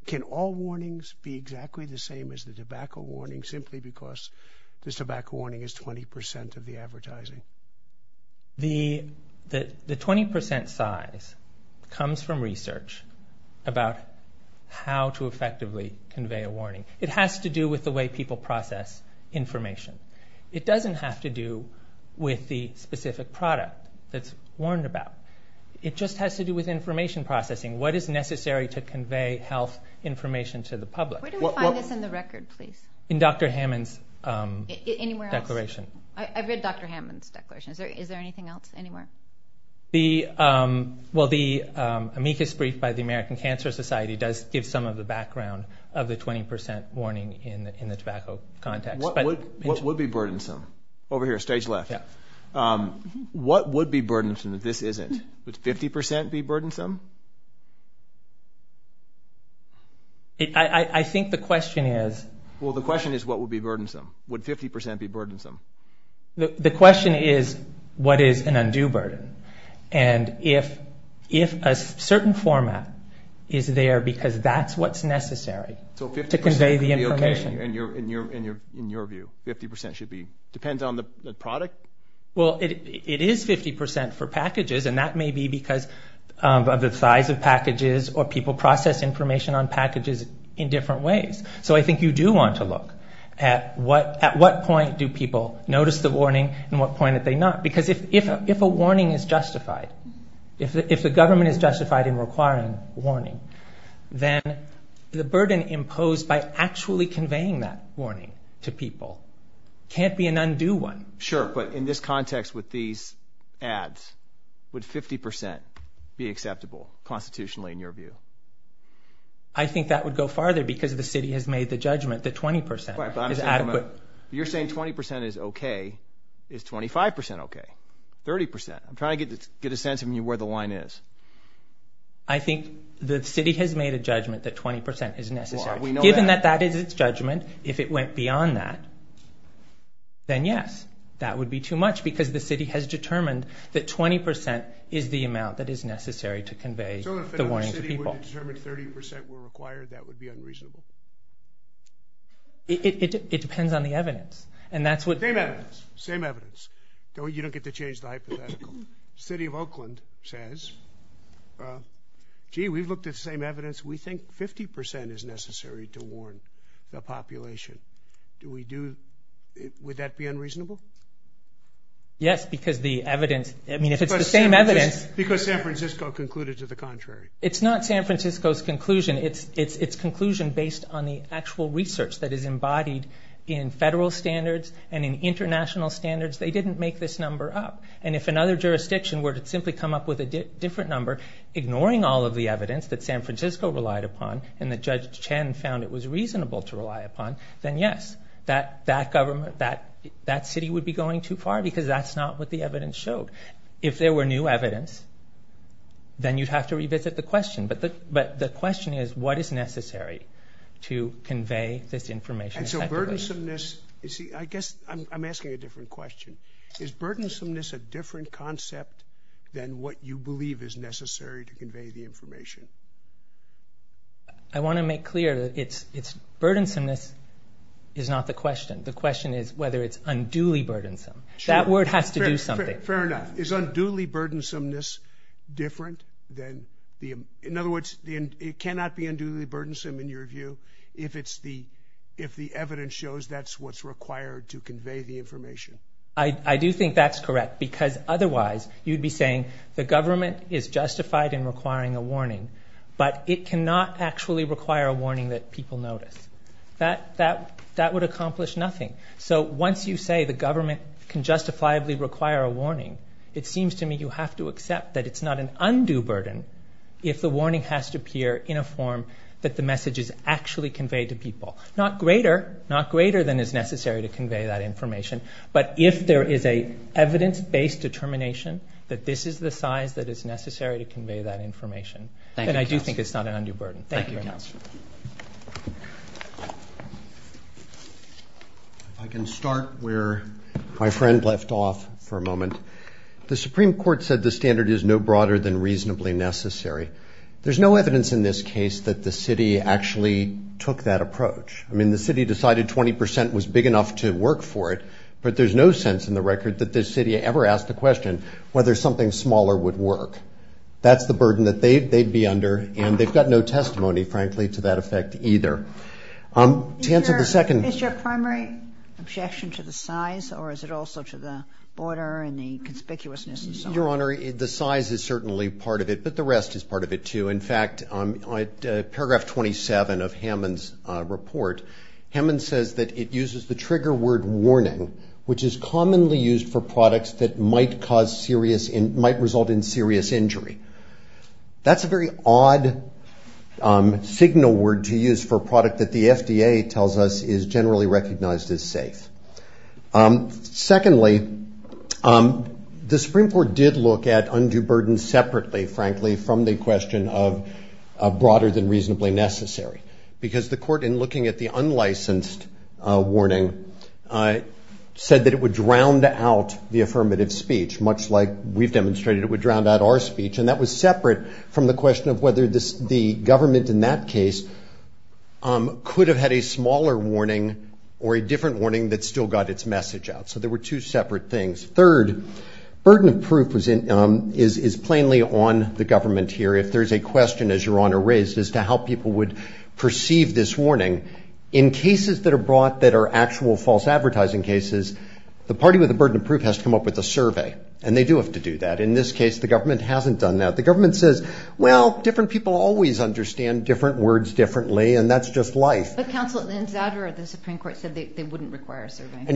can all warnings be exactly the same as the tobacco warnings simply because the tobacco warning is 20 percent of the advertising? The 20 percent size comes from research about how to effectively convey a warning. It has to do with the way people process information. It doesn't have to do with the specific product that's warned about. It just has to do with information processing. What is necessary to convey health information to the public? Where do we find this in the record, please? In Dr. Hammond's declaration. Anywhere else? I've read Dr. Hammond's declaration. Is there anything else anywhere? Well, the amicus brief by the American Cancer Society does give some of the background of the 20 percent warning in the tobacco context. What would be burdensome? Over here, stage left. What would be burdensome that this isn't? Would 50 percent be burdensome? I think the question is... Well, the question is, what would be burdensome? Would 50 percent be burdensome? The question is, what is an undue burden? And if a certain format is there because that's what's necessary to convey the information... Well, it is 50 percent for packages, and that may be because of the size of packages or people process information on packages in different ways. So I think you do want to look at what point do people notice the warning and what point do they not? Because if a warning is justified, if the government is justified in requiring warning, then the burden imposed by actually conveying that warning to people can't be an undue one. Sure, but in this context with these ads, would 50 percent be acceptable constitutionally in your view? I think that would go farther because the city has made the judgment that 20 percent is adequate. You're saying 20 percent is okay. Is 25 percent okay? 30 percent? I'm trying to get a sense of where the line is. I think the city has made a judgment that 20 percent is necessary. Given that that is its judgment, if it went beyond that, then yes, that would be too much because the city has determined that 20 percent is the amount that is necessary to convey the warning to people. So if another city were to determine 30 percent were required, that would be unreasonable? It depends on the evidence, and that's what... Same evidence. Same evidence. You don't get to change the hypothetical. The city of Oakland says, gee, we've looked at the same evidence. We think 50 percent is necessary to warn the population. Do we do... Would that be unreasonable? Yes, because the evidence... I mean, if it's the same evidence... Because San Francisco concluded to the contrary. It's not San Francisco's conclusion. It's conclusion based on the actual research that is embodied in federal standards and in international standards. They didn't make this number up. And if another jurisdiction were to simply come up with a different number, ignoring all of the evidence that San Francisco relied upon and that Judge Chen found it was reasonable to rely upon, then yes, that city would be going too far because that's not what the evidence showed. If there were new evidence, then you'd have to revisit the question. But the question is, what is necessary to convey this information effectively? And so burdensomeness... I guess I'm asking a different question. Is burdensomeness a different concept than what you believe is necessary to convey the information? I want to make clear that burdensomeness is not the question. The question is whether it's unduly burdensome. That word has to do something. Fair enough. Is unduly burdensomeness different than... In other words, it cannot be unduly burdensome, in your view, I do think that's correct, because otherwise you'd be saying the government is justified in requiring a warning, but it cannot actually require a warning that people notice. That would accomplish nothing. So once you say the government can justifiably require a warning, it seems to me you have to accept that it's not an undue burden if the warning has to appear in a form that the message is actually conveyed to people. Not greater than is necessary to convey that information, but if there is an evidence-based determination that this is the size that is necessary to convey that information, then I do think it's not an undue burden. Thank you, Councillor. If I can start where my friend left off for a moment. The Supreme Court said the standard is no broader than reasonably necessary. There's no evidence in this case that the city actually took that approach. I mean, the city decided 20% was big enough to work for it, but there's no sense in the record that the city ever asked the question whether something smaller would work. That's the burden that they'd be under, and they've got no testimony, frankly, to that effect either. Is your primary objection to the size, or is it also to the border and the conspicuousness and so on? Your Honour, the size is certainly part of it, but the rest is part of it, too. In fact, paragraph 27 of Hammond's report, Hammond says that it uses the trigger word warning, which is commonly used for products that might result in serious injury. That's a very odd signal word to use for a product that the FDA tells us is generally recognized as safe. Secondly, the Supreme Court did look at undue burden separately, frankly, from the question of broader than reasonably necessary, because the court, in looking at the unlicensed warning, said that it would drown out the affirmative speech, much like we've demonstrated it would drown out our speech, and that was separate from the question of whether the government in that case could have had a smaller warning or a different warning that still got its message out. So there were two separate things. Third, burden of proof is plainly on the government here. If there's a question, as Your Honour raised, as to how people would perceive this warning, in cases that are brought that are actual false advertising cases, the party with the burden of proof has to come up with a survey, and they do have to do that. In this case, the government hasn't done that. The government says, well, different people always understand different words differently, and that's just life. And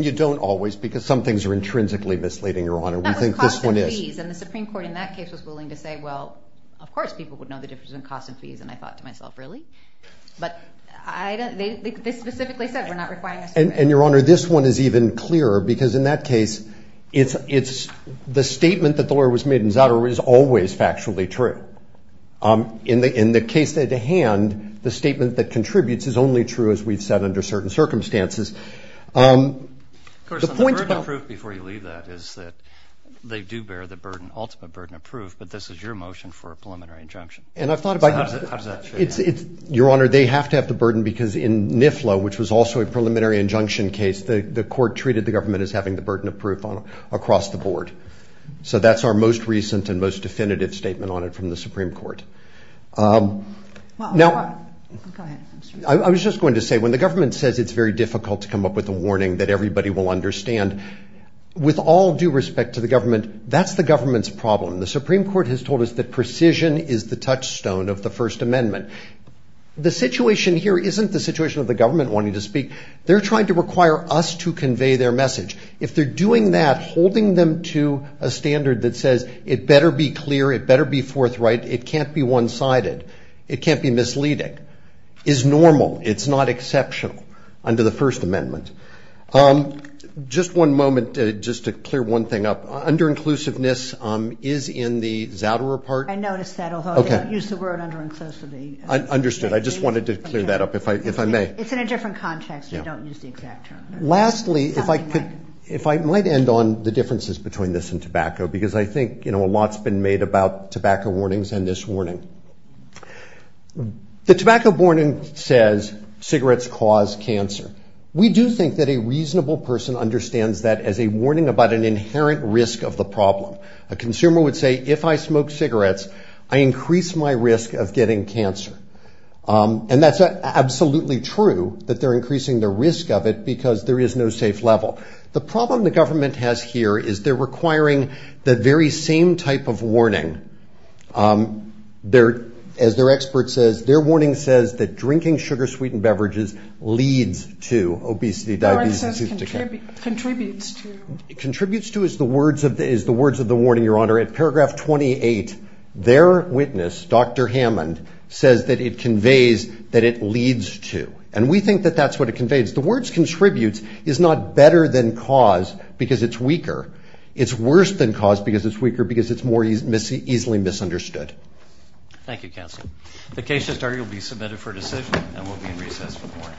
you don't always, because some things are intrinsically misleading, Your Honour. That was cost and fees, and the Supreme Court in that case was willing to say, well, of course people would know the difference in cost and fees, and I thought to myself, really? But they specifically said we're not requiring a survey. And Your Honour, this one is even clearer, because in that case, the statement that the lawyer was made in Zadar is always factually true. In the case at hand, the statement that contributes is only true, as we've said, under certain circumstances. Of course, the burden of proof, before you leave that, is that they do bear the ultimate burden of proof, but this is your motion for a preliminary injunction. And I've thought about it. So how does that trade off? Your Honour, they have to have the burden, because in NIFLA, which was also a preliminary injunction case, the court treated the government as having the burden of proof across the board. So that's our most recent and most definitive statement on it from the Supreme Court. Go ahead. I was just going to say, when the government says it's very difficult to come up with a warning that everybody will understand, with all due respect to the government, that's the government's problem. The Supreme Court has told us that precision is the touchstone of the First Amendment. The situation here isn't the situation of the government wanting to speak. They're trying to require us to convey their message. If they're doing that, holding them to a standard that says, it better be clear, it better be forthright, it can't be one-sided, it can't be misleading, is normal. It's not exceptional under the First Amendment. Just one moment, just to clear one thing up. Under-inclusiveness is in the Zouderer part. I noticed that, although I didn't use the word under-inclusivity. Understood. I just wanted to clear that up, if I may. It's in a different context. I don't use the exact term. Lastly, if I might end on the differences between this and tobacco, because I think a lot's been made about tobacco warnings and this warning. The tobacco warning says, cigarettes cause cancer. We do think that a reasonable person understands that as a warning about an inherent risk of the problem. A consumer would say, if I smoke cigarettes, I increase my risk of getting cancer. And that's absolutely true, that they're increasing the risk of it because there is no safe level. The problem the government has here is they're requiring the very same type of warning. As their expert says, their warning says that drinking sugar-sweetened beverages leads to obesity, diabetes. No, it says contributes to. Contributes to is the words of the warning, Your Honor. At paragraph 28, their witness, Dr. Hammond, says that it conveys that it leads to. And we think that that's what it conveys. The words contributes is not better than cause because it's weaker. It's worse than cause because it's weaker, because it's more easily misunderstood. Thank you, counsel. The case just argued will be submitted for decision and will be in recess for the morning.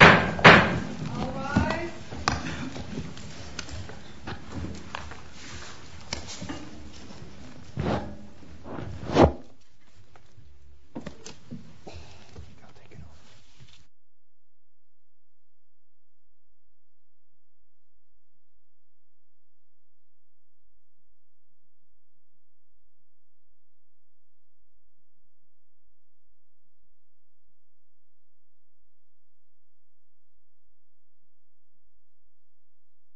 All rise. Thank you.